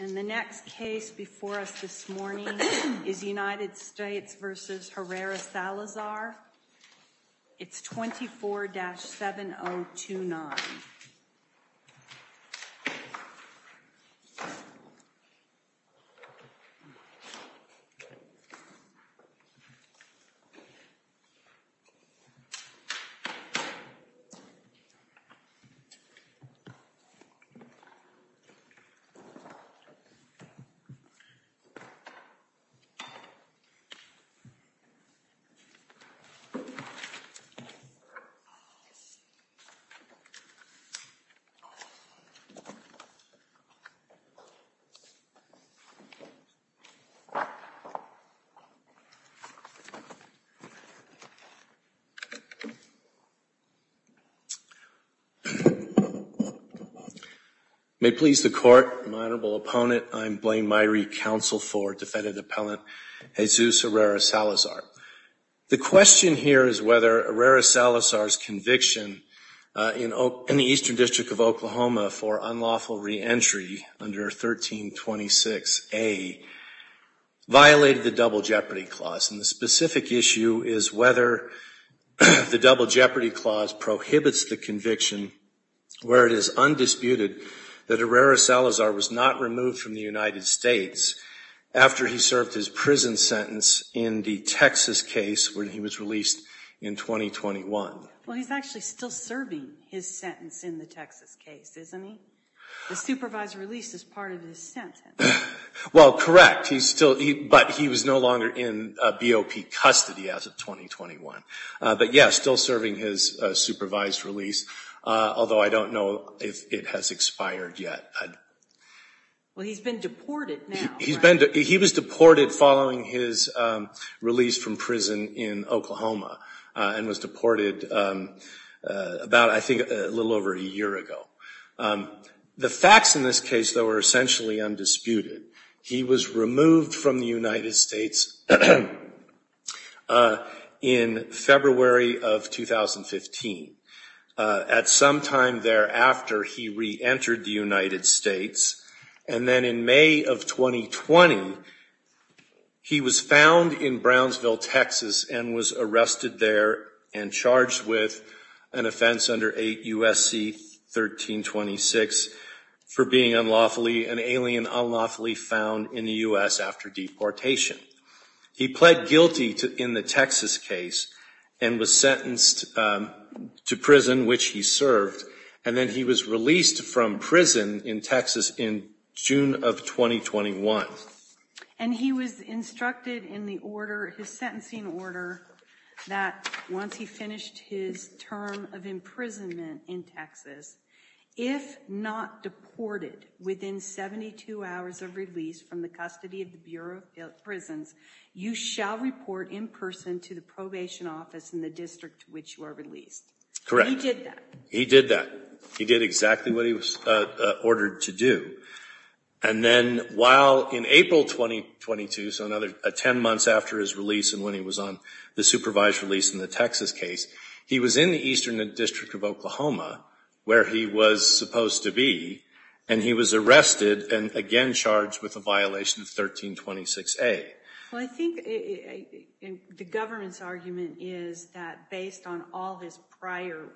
And the next case before us this morning is United States v. Herrera-Salazar. It's 24-7029. And the next case before us this morning is United States v. Herrera-Salazar. May it please the Court, my Honorable Opponent, I am Blaine Myrie, Counsel for Defendant Appellant Jesus Herrera-Salazar. The question here is whether Herrera-Salazar's conviction in the Eastern District of Oklahoma for unlawful reentry under 1326A violated the Double Jeopardy Clause. And the specific issue is whether the Double Jeopardy Clause prohibits the conviction where it is undisputed that Herrera-Salazar was not removed from the United States after he served his prison sentence in the Texas case when he was released in 2021. Well, he's actually still serving his sentence in the Texas case, isn't he? The supervisor released as part of his sentence. Well, correct, but he was no longer in BOP custody as of 2021. But yes, still serving his supervised release, although I don't know if it has expired yet. Well, he's been deported now. He was deported following his release from prison in Oklahoma and was deported about, I think, a little over a year ago. The facts in this case, though, are essentially undisputed. He was removed from the United States in February of 2015. At some time thereafter, he reentered the United States. And then in May of 2020, he was found in Brownsville, Texas, and was arrested there and charged with an offense under 8 U.S.C. 1326 for being unlawfully, an alien unlawfully found in the U.S. after deportation. He pled guilty in the Texas case and was sentenced to prison, which he served. And then he was released from prison in Texas in June of 2021. And he was instructed in the order, his sentencing order, that once he finished his term of imprisonment in Texas, if not deported within 72 hours of release from the custody of the Bureau of Prisons, you shall report in person to the probation office in the district to which you are released. Correct. And he did that? He did that. He did exactly what he was ordered to do. And then while in April 2022, so another 10 months after his release and when he was on the supervised release in the Texas case, he was in the Eastern District of Oklahoma where he was supposed to be, and he was arrested and again charged with a violation of 1326A. Well, I think the government's argument is that based on all his prior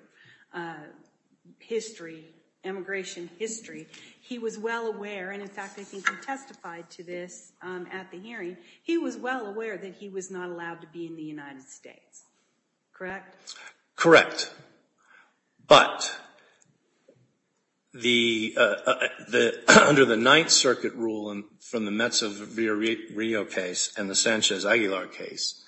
history, immigration history, he was well aware, and in fact I think he testified to this at the hearing, he was well aware that he was not allowed to be in the United States. Correct? Correct. But under the Ninth Circuit rule from the Mezzo-Rio case and the Sanchez-Aguilar case,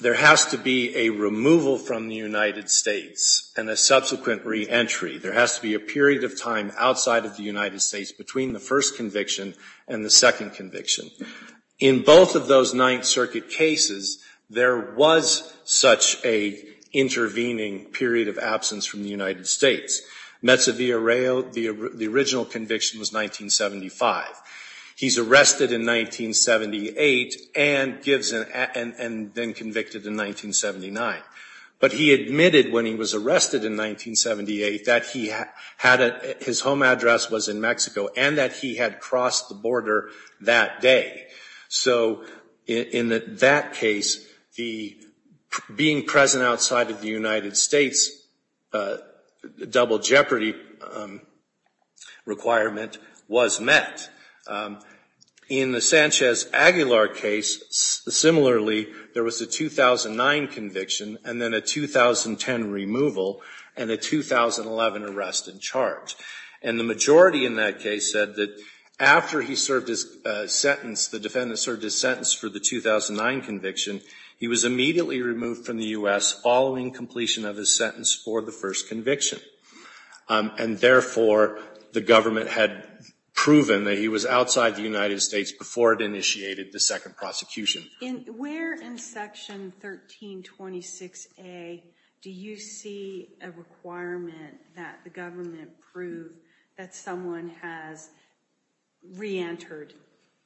there has to be a removal from the United States and a subsequent reentry. There has to be a period of time outside of the United States between the first conviction and the second conviction. In both of those Ninth Circuit cases, there was such a intervening period of absence from the United States. Mezzo-Rio, the original conviction was 1975. He's arrested in 1978 and then convicted in 1979. But he admitted when he was arrested in 1978 that his home address was in Mexico and that he had crossed the border that day. So in that case, being present outside of the United States double jeopardy requirement was met. In the Sanchez-Aguilar case, similarly, there was a 2009 conviction and then a 2010 removal and a 2011 arrest and charge. And the majority in that case said that after he served his sentence, the defendant served his sentence for the 2009 conviction, he was immediately removed from the U.S. following completion of his sentence for the first conviction. And therefore, the government had proven that he was outside the United States before it initiated the second prosecution. Where in Section 1326A do you see a requirement that the government prove that someone has reentered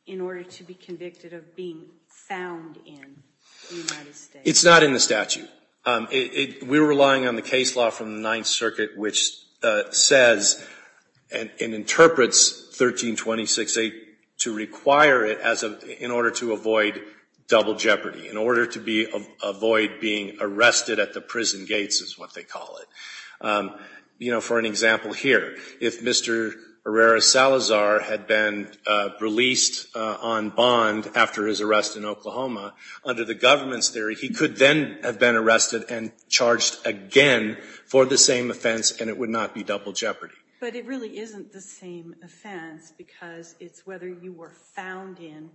in order to be convicted of being found in the United States? It's not in the statute. We're relying on the case law from the Ninth Circuit which says and interprets 1326A to require it in order to avoid double jeopardy, in order to avoid being arrested at the prison gates is what they call it. You know, for an example here, if Mr. Herrera Salazar had been released on bond after his arrest in Oklahoma, under the government's theory, he could then have been arrested and charged again for the same offense and it would not be double jeopardy. But it really isn't the same offense because it's whether you were found in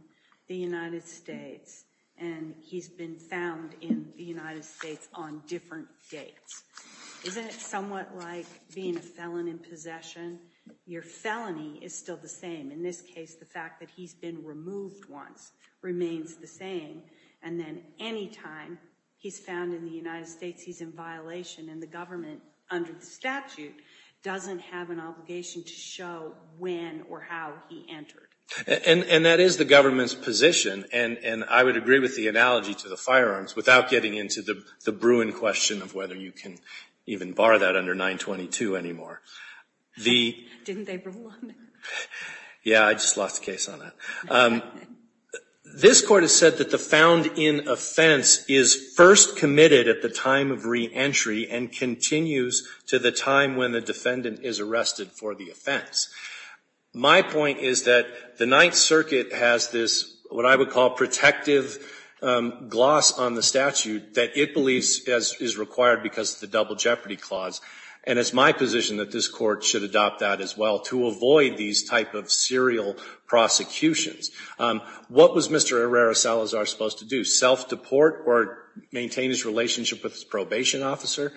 the United States and he's been found in the United States on different dates. Isn't it somewhat like being a felon in possession? Your felony is still the same. In this case the fact that he's been removed once remains the same and then any time he's found in the United States he's in violation and the government under the statute doesn't have an obligation to show when or how he entered. And that is the government's position and I would agree with the analogy to the firearms without getting into the Bruin question of whether you can even bar that under 922 anymore. Didn't they rule on that? Yeah, I just lost the case on that. This Court has said that the found in offense is first committed at the time of reentry and continues to the time when the defendant is arrested for the offense. My point is that the Ninth Circuit has this, what I would call, protective gloss on the statute that it believes is required because of the double jeopardy clause and it's my position that this Court should adopt that as well to avoid these type of serial prosecutions. What was Mr. Herrera-Salazar supposed to do? Self-deport or maintain his relationship with his probation officer?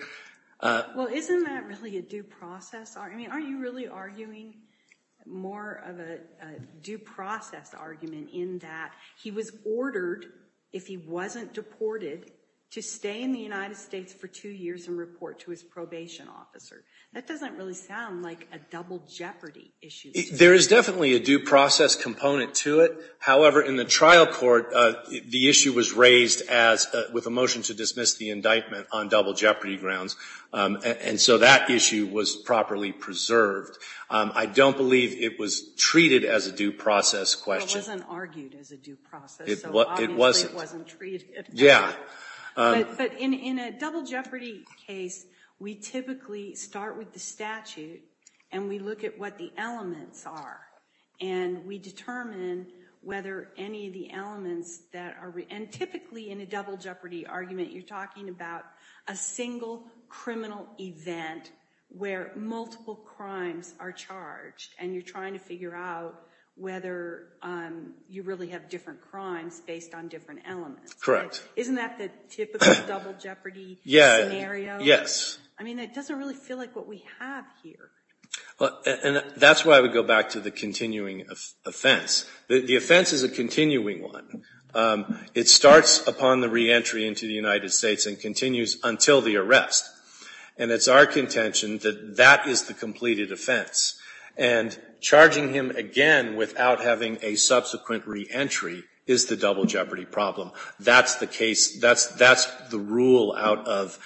Well, isn't that really a due process argument? Aren't you really arguing more of a due process argument in that he was ordered, if he wasn't deported, to stay in the United States for two years and report to his probation officer? That doesn't really sound like a double jeopardy issue. There is definitely a due process component to it. However, in the trial court, the issue was raised with a motion to dismiss the indictment on double jeopardy grounds and so that issue was properly preserved. I don't believe it was treated as a due process question. It wasn't argued as a due process, so obviously it wasn't treated. Yeah. But in a double jeopardy case, we typically start with the statute and we look at what the elements are and we determine whether any of the elements that are, and typically in a double jeopardy argument, you're talking about a single criminal event where multiple crimes are charged and you're trying to figure out whether you really have different crimes based on different elements. Isn't that the typical double jeopardy scenario? I mean, it doesn't really feel like what we have here. And that's why we go back to the continuing offense. The offense is a continuing one. It starts upon the reentry into the United States and continues until the arrest. And it's our contention that that is the completed offense. And charging him again without having a subsequent reentry is the double jeopardy problem. That's the case. That's the rule out of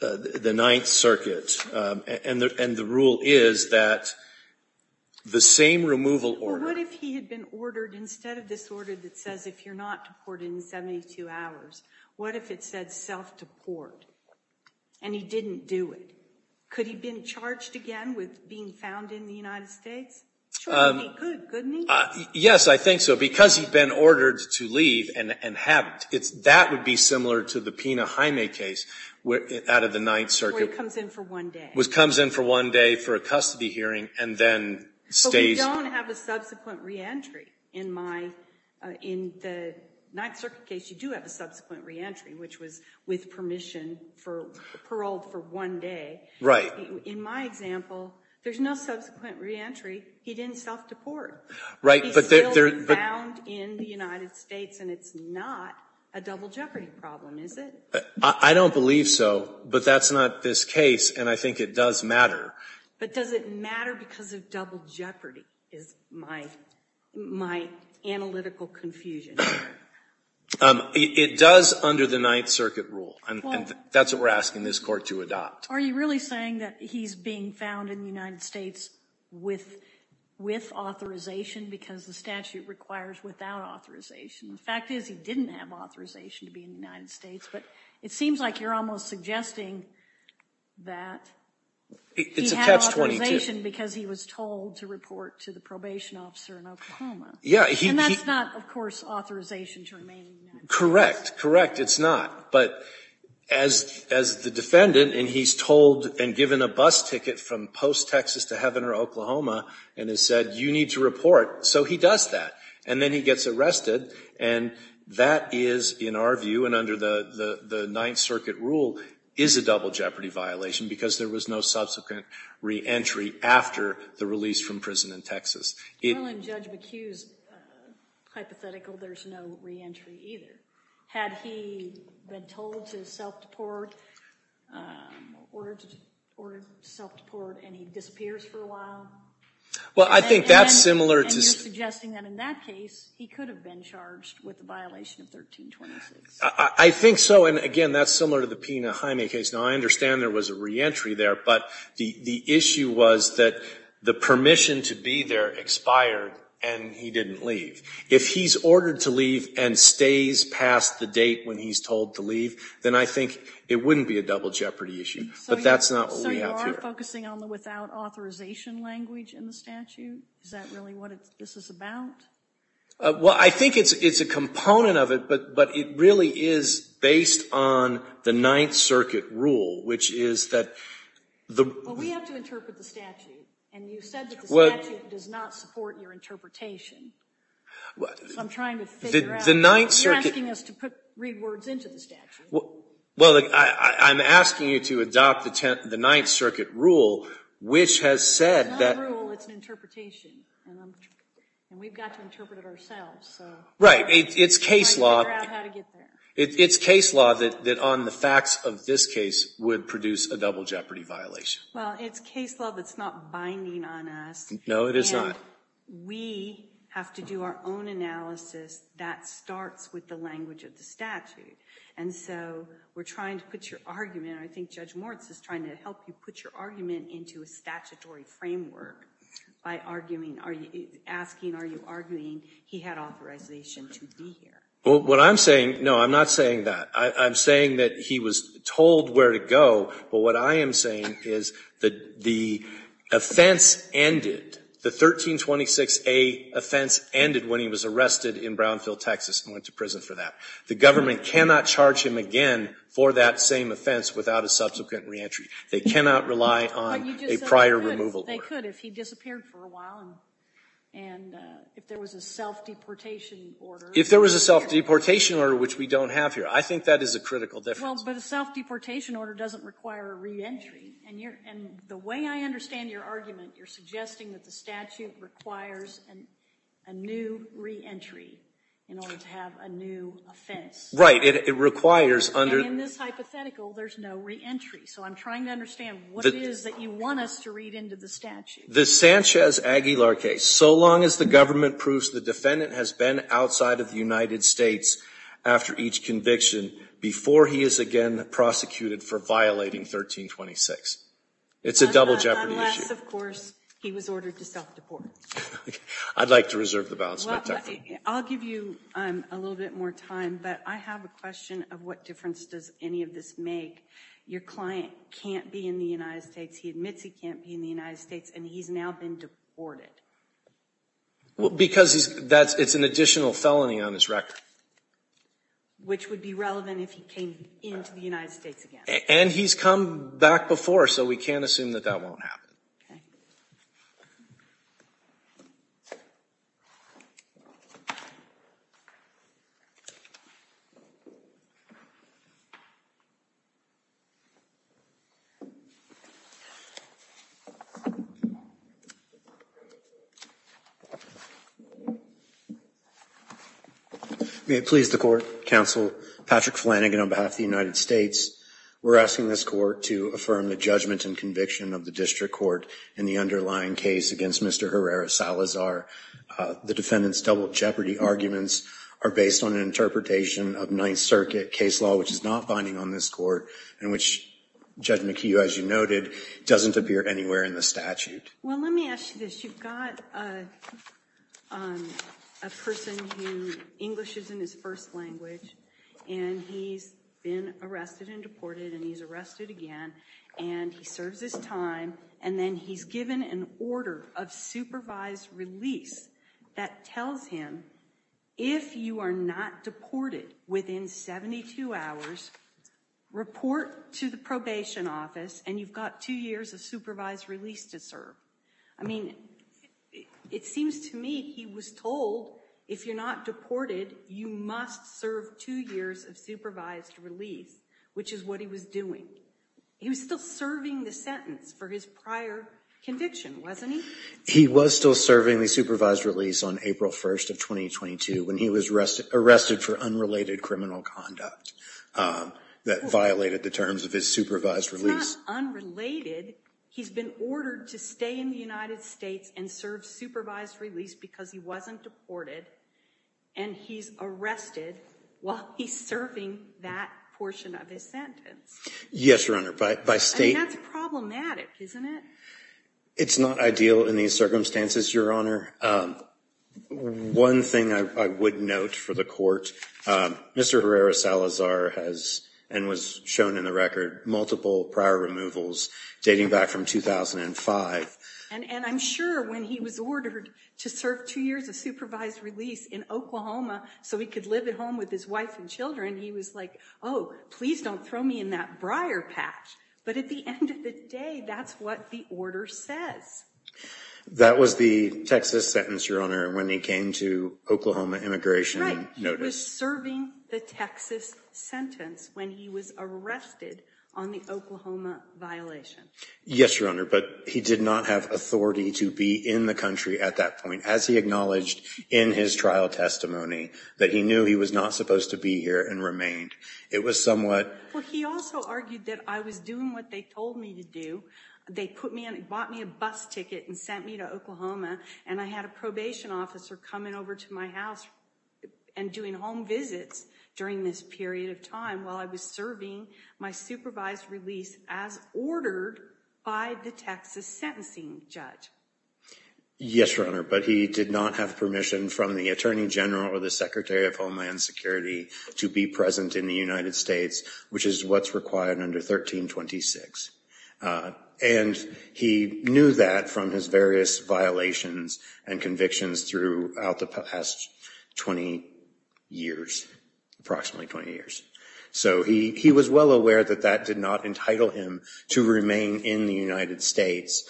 the Ninth Circuit. And the rule is that the same removal order. Well, what if he had been ordered, instead of this order that says if you're not deported in 72 hours, what if it said self-deport? And he didn't do it. Could he have been charged again with being found in the United States? Sure, he could, couldn't he? Yes, I think so. Because he'd been ordered to leave and have, that would be similar to the Pena-Hymae case out of the Ninth Circuit. Where he comes in for one day. Comes in for one day for a custody hearing and then stays. You don't have a subsequent reentry. In my, in the Ninth Circuit case, you do have a subsequent reentry, which was with permission for, paroled for one day. Right. In my example, there's no subsequent reentry. He didn't self-deport. Right. He's still being found in the United States and it's not a double jeopardy problem, is it? I don't believe so. But that's not this case. And I think it does matter. But does it matter because of double jeopardy is my, my analytical confusion. It does under the Ninth Circuit rule. And that's what we're asking this Court to adopt. Are you really saying that he's being found in the United States with, with authorization because the statute requires without authorization? The fact is he didn't have authorization to be in the United States. But it seems like you're almost suggesting that. It's a catch-22. He had authorization because he was told to report to the probation officer in Oklahoma. Yeah. And that's not, of course, authorization to remain in the United States. Correct. Correct. It's not. But as, as the defendant, and he's told and given a bus ticket from post-Texas to Heaven or Oklahoma and has said, you need to report, so he does that. And then he gets arrested. And that is, in our view, and under the, the Ninth Circuit rule, is a double jeopardy violation because there was no subsequent reentry after the release from prison in Texas. Well, in Judge McHugh's hypothetical, there's no reentry either. Had he been told to self-deport, ordered, ordered self-deport, and he disappears for a while? Well, I think that's similar to. And you're suggesting that in that case, he could have been charged with the violation of 1326. I think so. And, again, that's similar to the Pena-Hyme case. Now, I understand there was a reentry there, but the, the issue was that the permission to be there expired, and he didn't leave. If he's ordered to leave and stays past the date when he's told to leave, then I think it wouldn't be a double jeopardy issue. But that's not what we have here. So you are focusing on the without authorization language in the statute? Is that really what this is about? Well, I think it's, it's a component of it, but, but it really is based on the Ninth Circuit rule, which is that the. Well, we have to interpret the statute. And you said that the statute does not support your interpretation. I'm trying to figure out. The Ninth Circuit. You're asking us to put, read words into the statute. Well, I'm asking you to adopt the Ninth Circuit rule, which has said that. It's not a rule, it's an interpretation. And we've got to interpret it ourselves, so. Right. It's case law. We've got to figure out how to get there. It's case law that, that on the facts of this case would produce a double jeopardy violation. Well, it's case law that's not binding on us. No, it is not. And we have to do our own analysis that starts with the language of the statute. And so we're trying to put your argument, I think Judge Moritz is trying to help you put your argument into a statutory framework by arguing, asking, are you arguing he had authorization to be here? Well, what I'm saying, no, I'm not saying that. I'm saying that he was told where to go, but what I am saying is that the offense ended, the 1326A offense ended when he was arrested in Brownfield, Texas and went to prison for that. The government cannot charge him again for that same offense without a subsequent reentry. They cannot rely on a prior removal order. But you just said they could, they could if he disappeared for a while and if there was a self-deportation order. If there was a self-deportation order, which we don't have here. I think that is a critical difference. Well, but a self-deportation order doesn't require a reentry. And the way I understand your argument, you're suggesting that the statute requires a new reentry in order to have a new offense. Right. It requires under the statute. And in this hypothetical, there's no reentry. So I'm trying to understand what it is that you want us to read into the statute. The Sanchez-Aguilar case, so long as the government proves the defendant has been deported outside of the United States after each conviction before he is again prosecuted for violating 1326. It's a double jeopardy issue. Unless, of course, he was ordered to self-deport. I'd like to reserve the balance. I'll give you a little bit more time. But I have a question of what difference does any of this make. Your client can't be in the United States. He admits he can't be in the United States. And he's now been deported. Because it's an additional felony on his record. Which would be relevant if he came into the United States again. And he's come back before, so we can't assume that that won't happen. Okay. May it please the Court, Counsel. Patrick Flanagan on behalf of the United States. We're asking this Court to affirm the judgment and conviction of the district court in the underlying case against Mr. Herrera Salazar. The defendant's double jeopardy arguments are based on an interpretation of Ninth Circuit case law, which is not binding on this Court. And which, Judge McHugh, as you noted, doesn't appear anywhere in the statute. Well, let me ask you this. You've got a person who English isn't his first language. And he's been arrested and deported. And he's arrested again. And he serves his time. And then he's given an order of supervised release that tells him, if you are not deported within 72 hours, report to the probation office. And you've got two years of supervised release to serve. I mean, it seems to me he was told, if you're not deported, you must serve two years of supervised release, which is what he was doing. He was still serving the sentence for his prior conviction, wasn't he? He was still serving the supervised release on April 1st of 2022 when he was arrested for unrelated criminal conduct that violated the terms of his supervised release. He's not unrelated. He's been ordered to stay in the United States and serve supervised release because he wasn't deported. And he's arrested while he's serving that portion of his sentence. Yes, Your Honor. And that's problematic, isn't it? It's not ideal in these circumstances, Your Honor. One thing I would note for the Court, Mr. Herrera Salazar has, and was shown in the record, multiple prior removals dating back from 2005. And I'm sure when he was ordered to serve two years of supervised release in Oklahoma so he could live at home with his wife and children, he was like, oh, please don't throw me in that briar patch. But at the end of the day, that's what the order says. That was the Texas sentence, Your Honor, when he came to Oklahoma immigration notice. He was serving the Texas sentence when he was arrested on the Oklahoma violation. Yes, Your Honor. But he did not have authority to be in the country at that point, as he acknowledged in his trial testimony, that he knew he was not supposed to be here and remained. It was somewhat. Well, he also argued that I was doing what they told me to do. They bought me a bus ticket and sent me to Oklahoma, and I had a probation officer coming over to my house and doing home visits during this period of time while I was serving my supervised release as ordered by the Texas sentencing judge. Yes, Your Honor. But he did not have permission from the Attorney General or the Secretary of Homeland Security to be present in the United States, which is what's required under 1326. And he knew that from his various violations and convictions throughout the past 20 years, approximately 20 years. So he was well aware that that did not entitle him to remain in the United States.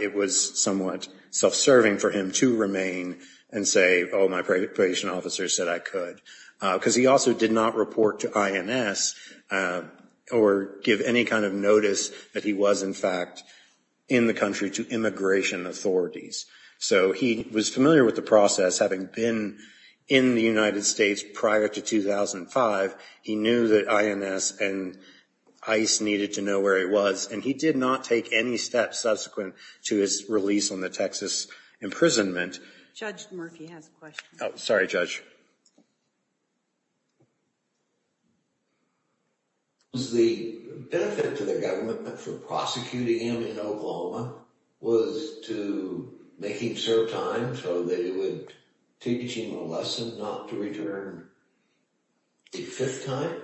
It was somewhat self-serving for him to remain and say, oh, my probation officer said I could. Because he also did not report to INS or give any kind of notice that he was, in fact, in the country to immigration authorities. So he was familiar with the process. Having been in the United States prior to 2005, he knew that INS and ICE needed to know where he was. And he did not take any steps subsequent to his release on the Texas imprisonment. Judge Murphy has a question. Sorry, Judge. Was the benefit to the government for prosecuting him in Oklahoma was to make him serve time so that it would teach him a lesson not to return a fifth time?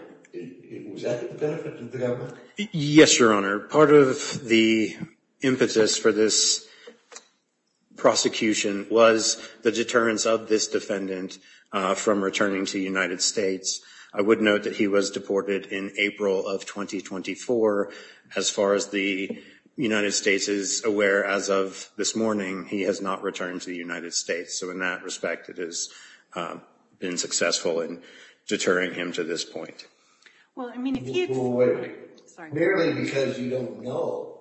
Was that the benefit to the government? Yes, Your Honor. Part of the impetus for this prosecution was the deterrence of this defendant from returning to the United States. I would note that he was deported in April of 2024. As far as the United States is aware, as of this morning, he has not returned to the United States. So in that respect, it has been successful in deterring him to this point. Well, wait. Merely because you don't know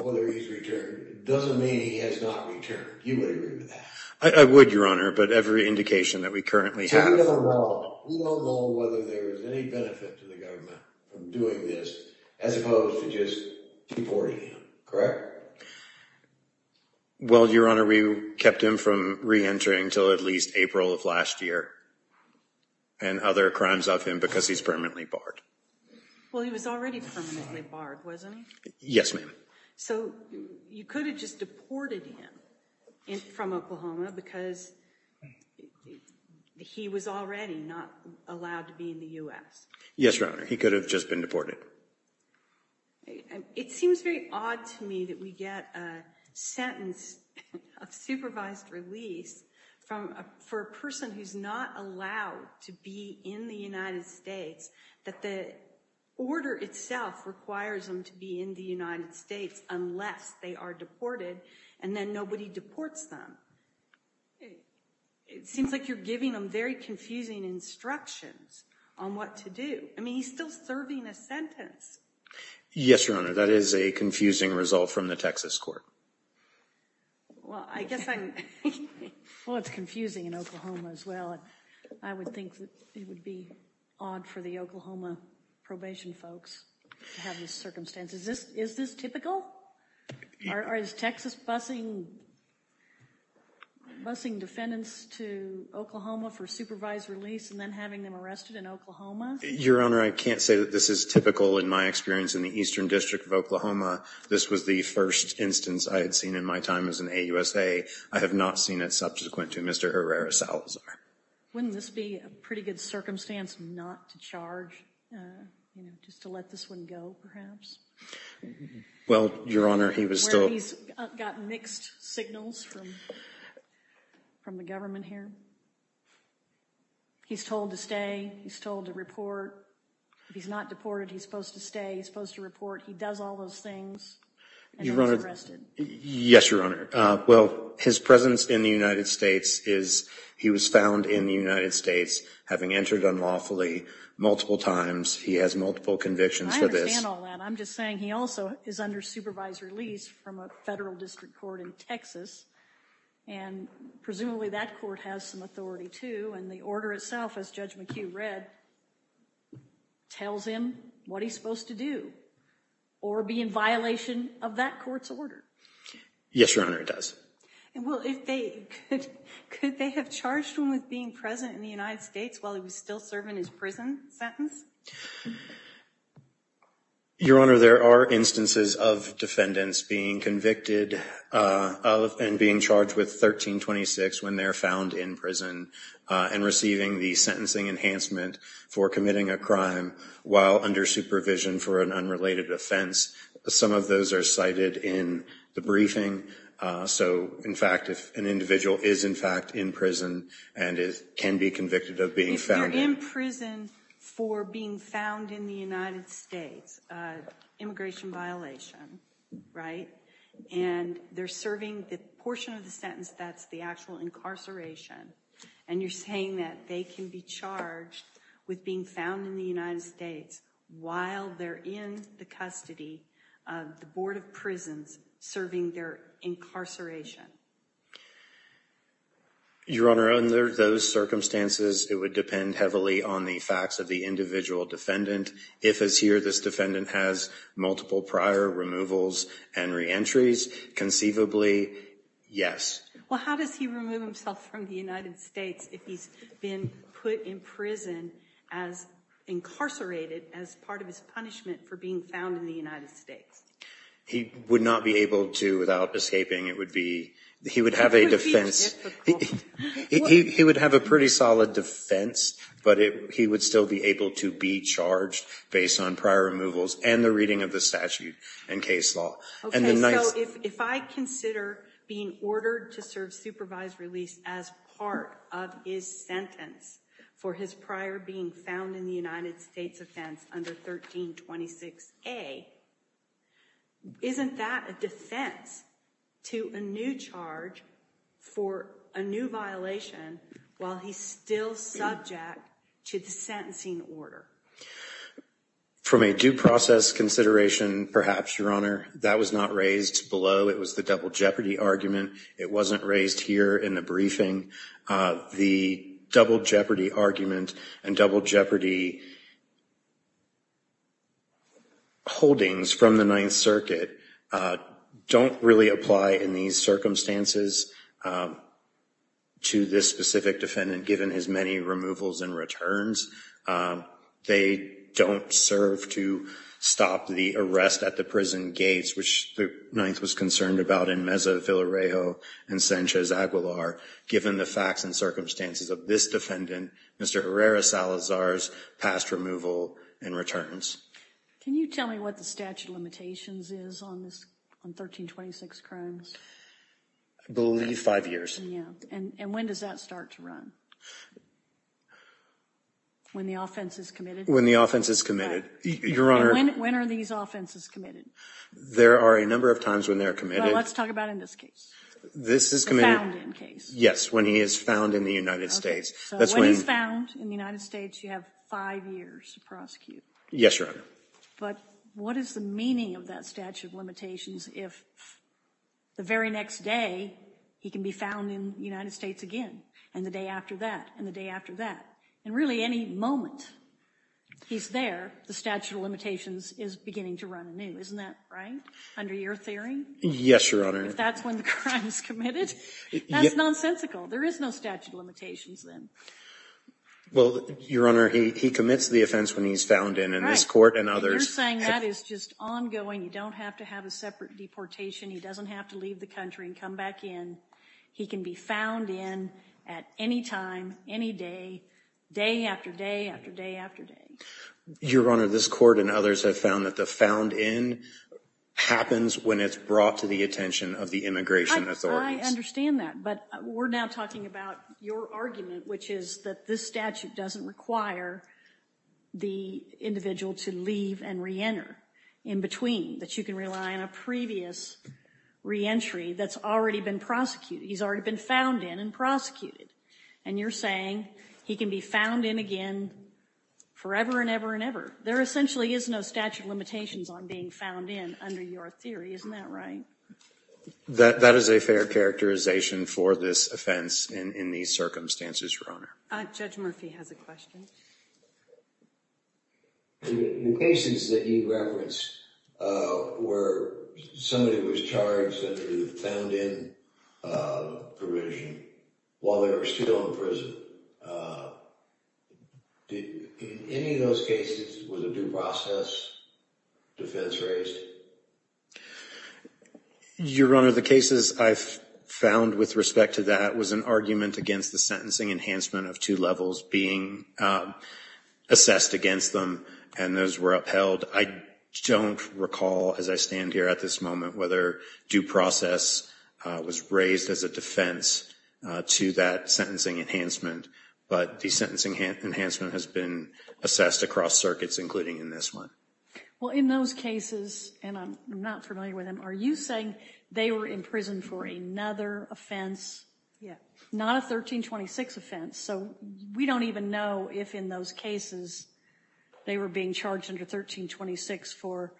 whether he's returned, doesn't mean he has not returned. You wouldn't remember that. I would, Your Honor. But every indication that we currently have. So we don't know. We don't know whether there was any benefit to the government from doing this as opposed to just deporting him. Correct? Well, Your Honor, we kept him from reentering until at least April of last year and other crimes of him because he's permanently barred. Well, he was already permanently barred, wasn't he? Yes, ma'am. So you could have just deported him from Oklahoma because he was already not allowed to be in the U.S.? Yes, Your Honor. He could have just been deported. It seems very odd to me that we get a sentence of supervised release for a person who's not allowed to be in the United States that the order itself requires them to be in the United States unless they are deported and then nobody deports them. It seems like you're giving them very confusing instructions on what to do. I mean, he's still serving a sentence. Yes, Your Honor. That is a confusing result from the Texas court. Well, it's confusing in Oklahoma as well. I would think it would be odd for the Oklahoma probation folks to have these circumstances. Is this typical? Is Texas busing defendants to Oklahoma for supervised release and then having them arrested in Oklahoma? Your Honor, I can't say that this is typical in my experience in the Eastern District of Oklahoma. This was the first instance I had seen in my time as an AUSA. I have not seen it subsequent to Mr. Herrera Salazar. Wouldn't this be a pretty good circumstance not to charge, just to let this one go perhaps? Well, Your Honor, he was still – Where he's got mixed signals from the government here. He's told to stay. He's told to report. If he's not deported, he's supposed to stay. He's supposed to report. He does all those things and then he's arrested. Yes, Your Honor. Well, his presence in the United States is – he was found in the United States having entered unlawfully multiple times. He has multiple convictions for this. I understand all that. I'm just saying he also is under supervised release from a federal district court in Texas. And presumably that court has some authority too. And the order itself, as Judge McHugh read, tells him what he's supposed to do or be in violation of that court's order. Yes, Your Honor, it does. Well, could they have charged him with being present in the United States while he was still serving his prison sentence? Your Honor, there are instances of defendants being convicted of and being charged with 1326 when they're found in prison and receiving the sentencing enhancement for committing a crime while under supervision for an unrelated offense. Some of those are cited in the briefing. So, in fact, if an individual is, in fact, in prison and can be convicted of being found in prison. If they're in prison for being found in the United States, immigration violation, right, and they're serving the portion of the sentence that's the actual incarceration. And you're saying that they can be charged with being found in the United States while they're in the custody of the Board of Prisons serving their incarceration. Your Honor, under those circumstances, it would depend heavily on the facts of the individual defendant. If, as here, this defendant has multiple prior removals and reentries, conceivably, yes. Well, how does he remove himself from the United States if he's been put in prison as incarcerated as part of his punishment for being found in the United States? He would not be able to without escaping. It would be, he would have a defense. It would be difficult. He would have a pretty solid defense, but he would still be able to be charged based on prior removals and the reading of the statute and case law. Okay, so if I consider being ordered to serve supervised release as part of his sentence for his prior being found in the United States offense under 1326A, isn't that a defense to a new charge for a new violation while he's still subject to the sentencing order? From a due process consideration, perhaps, Your Honor, that was not raised below. It was the double jeopardy argument. It wasn't raised here in the briefing. The double jeopardy argument and double jeopardy holdings from the Ninth Circuit don't really apply in these circumstances to this specific defendant given his many removals and returns. They don't serve to stop the arrest at the prison gates, which the Ninth was concerned about in Meza de Villarejo and Sanchez Aguilar given the facts and circumstances of this defendant, Mr. Herrera Salazar's past removal and returns. Can you tell me what the statute of limitations is on 1326 Crimes? I believe five years. And when does that start to run? When the offense is committed? When the offense is committed, Your Honor. When are these offenses committed? There are a number of times when they are committed. Well, let's talk about in this case, the found-in case. Yes, when he is found in the United States. When he's found in the United States, you have five years to prosecute. Yes, Your Honor. But what is the meaning of that statute of limitations if the very next day he can be found in the United States again and the day after that and the day after that? And really any moment he's there, the statute of limitations is beginning to run anew. Isn't that right, under your theory? Yes, Your Honor. If that's when the crime is committed, that's nonsensical. There is no statute of limitations then. Well, Your Honor, he commits the offense when he's found in, and this Court and others... Right, but you're saying that is just ongoing. You don't have to have a separate deportation. He doesn't have to leave the country and come back in. He can be found in at any time, any day, day after day after day after day. Your Honor, this Court and others have found that the found in happens when it's brought to the attention of the immigration authorities. I understand that, but we're now talking about your argument, which is that this statute doesn't require the individual to leave and reenter in between, that you can rely on a previous reentry that's already been prosecuted. He's already been found in and prosecuted. And you're saying he can be found in again forever and ever and ever. There essentially is no statute of limitations on being found in under your theory. Isn't that right? That is a fair characterization for this offense in these circumstances, Your Honor. Judge Murphy has a question. The cases that you referenced where somebody was charged under the found in provision while they were still in prison, in any of those cases, was a due process defense raised? Your Honor, the cases I've found with respect to that was an argument against the sentencing enhancement of two levels being assessed against them, and those were upheld. I don't recall, as I stand here at this moment, whether due process was raised as a defense to that sentencing enhancement, but the sentencing enhancement has been assessed across circuits, including in this one. Well, in those cases, and I'm not familiar with them, are you saying they were in prison for another offense, not a 1326 offense? So we don't even know if in those cases they were being charged under 1326 for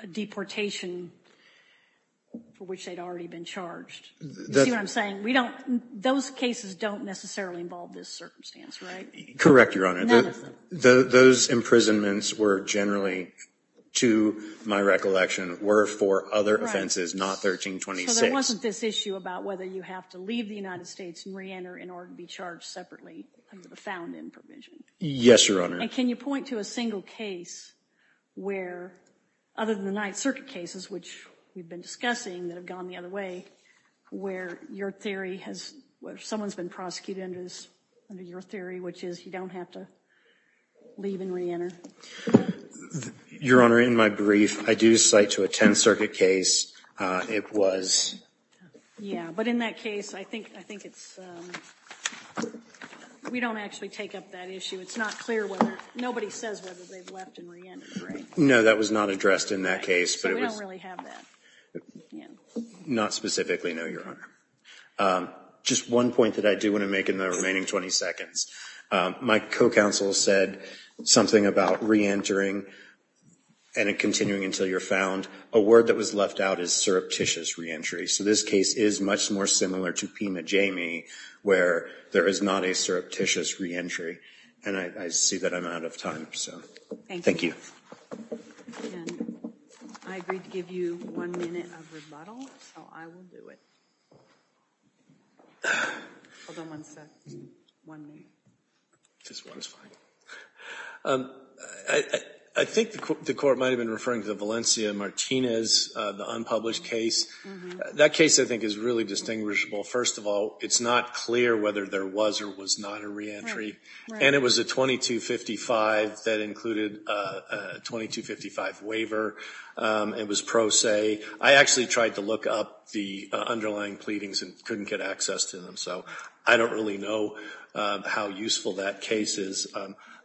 a deportation for which they'd already been charged. You see what I'm saying? Those cases don't necessarily involve this circumstance, right? Correct, Your Honor. None of them. Those imprisonments were generally, to my recollection, were for other offenses, not 1326. So there wasn't this issue about whether you have to leave the United States and reenter in order to be charged separately under the found-in provision. Yes, Your Honor. And can you point to a single case where, other than the Ninth Circuit cases, which we've been discussing that have gone the other way, where someone's been prosecuted under your theory, which is you don't have to leave and reenter? Your Honor, in my brief, I do cite to a Tenth Circuit case, it was... Yeah, but in that case, I think it's... We don't actually take up that issue. It's not clear whether... Nobody says whether they've left and reentered, right? No, that was not addressed in that case. So we don't really have that. Not specifically, no, Your Honor. Just one point that I do want to make in the remaining 20 seconds. My co-counsel said something about reentering and continuing until you're found. A word that was left out is surreptitious reentry. So this case is much more similar to Pima Jamey, where there is not a surreptitious reentry. And I see that I'm out of time, so thank you. And I agreed to give you one minute of rebuttal, so I will do it. Hold on one second, one minute. Just one is fine. I think the Court might have been referring to the Valencia-Martinez, the unpublished case. That case, I think, is really distinguishable. First of all, it's not clear whether there was or was not a reentry. And it was a 2255 that included a 2255 waiver. It was pro se. I actually tried to look up the underlying pleadings and couldn't get access to them, so I don't really know how useful that case is.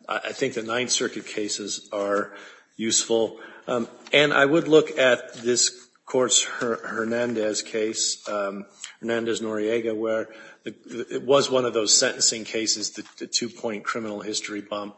I think the Ninth Circuit cases are useful. And I would look at this Court's Hernandez case, Hernandez-Noriega, where it was one of those sentencing cases, the two-point criminal history bump,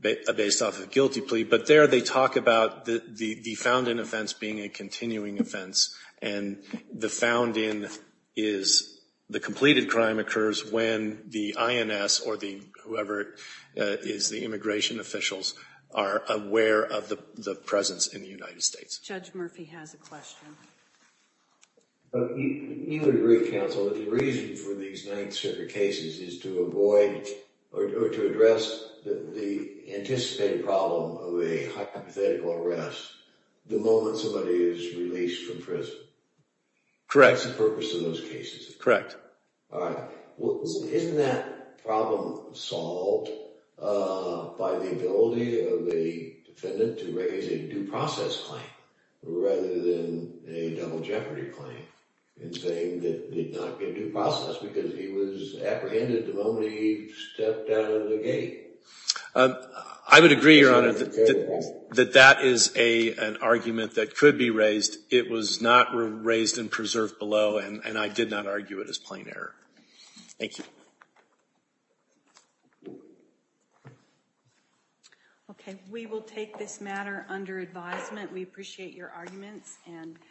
based off a guilty plea. But there they talk about the found-in offense being a continuing offense, and the found-in is the completed crime occurs when the INS or whoever it is, the immigration officials, are aware of the presence in the United States. Judge Murphy has a question. You would agree, counsel, that the reason for these Ninth Circuit cases is to avoid or to address the anticipated problem of a hypothetical arrest the moment somebody is released from prison? Correct. That's the purpose of those cases. Correct. Isn't that problem solved by the ability of the defendant to raise a due process claim rather than a double jeopardy claim in saying that he did not get due process because he was apprehended the moment he stepped out of the gate? I would agree, Your Honor, that that is an argument that could be raised. It was not raised and preserved below, and I did not argue it as plain error. Thank you. Okay. We will take this matter under advisement. We appreciate your arguments.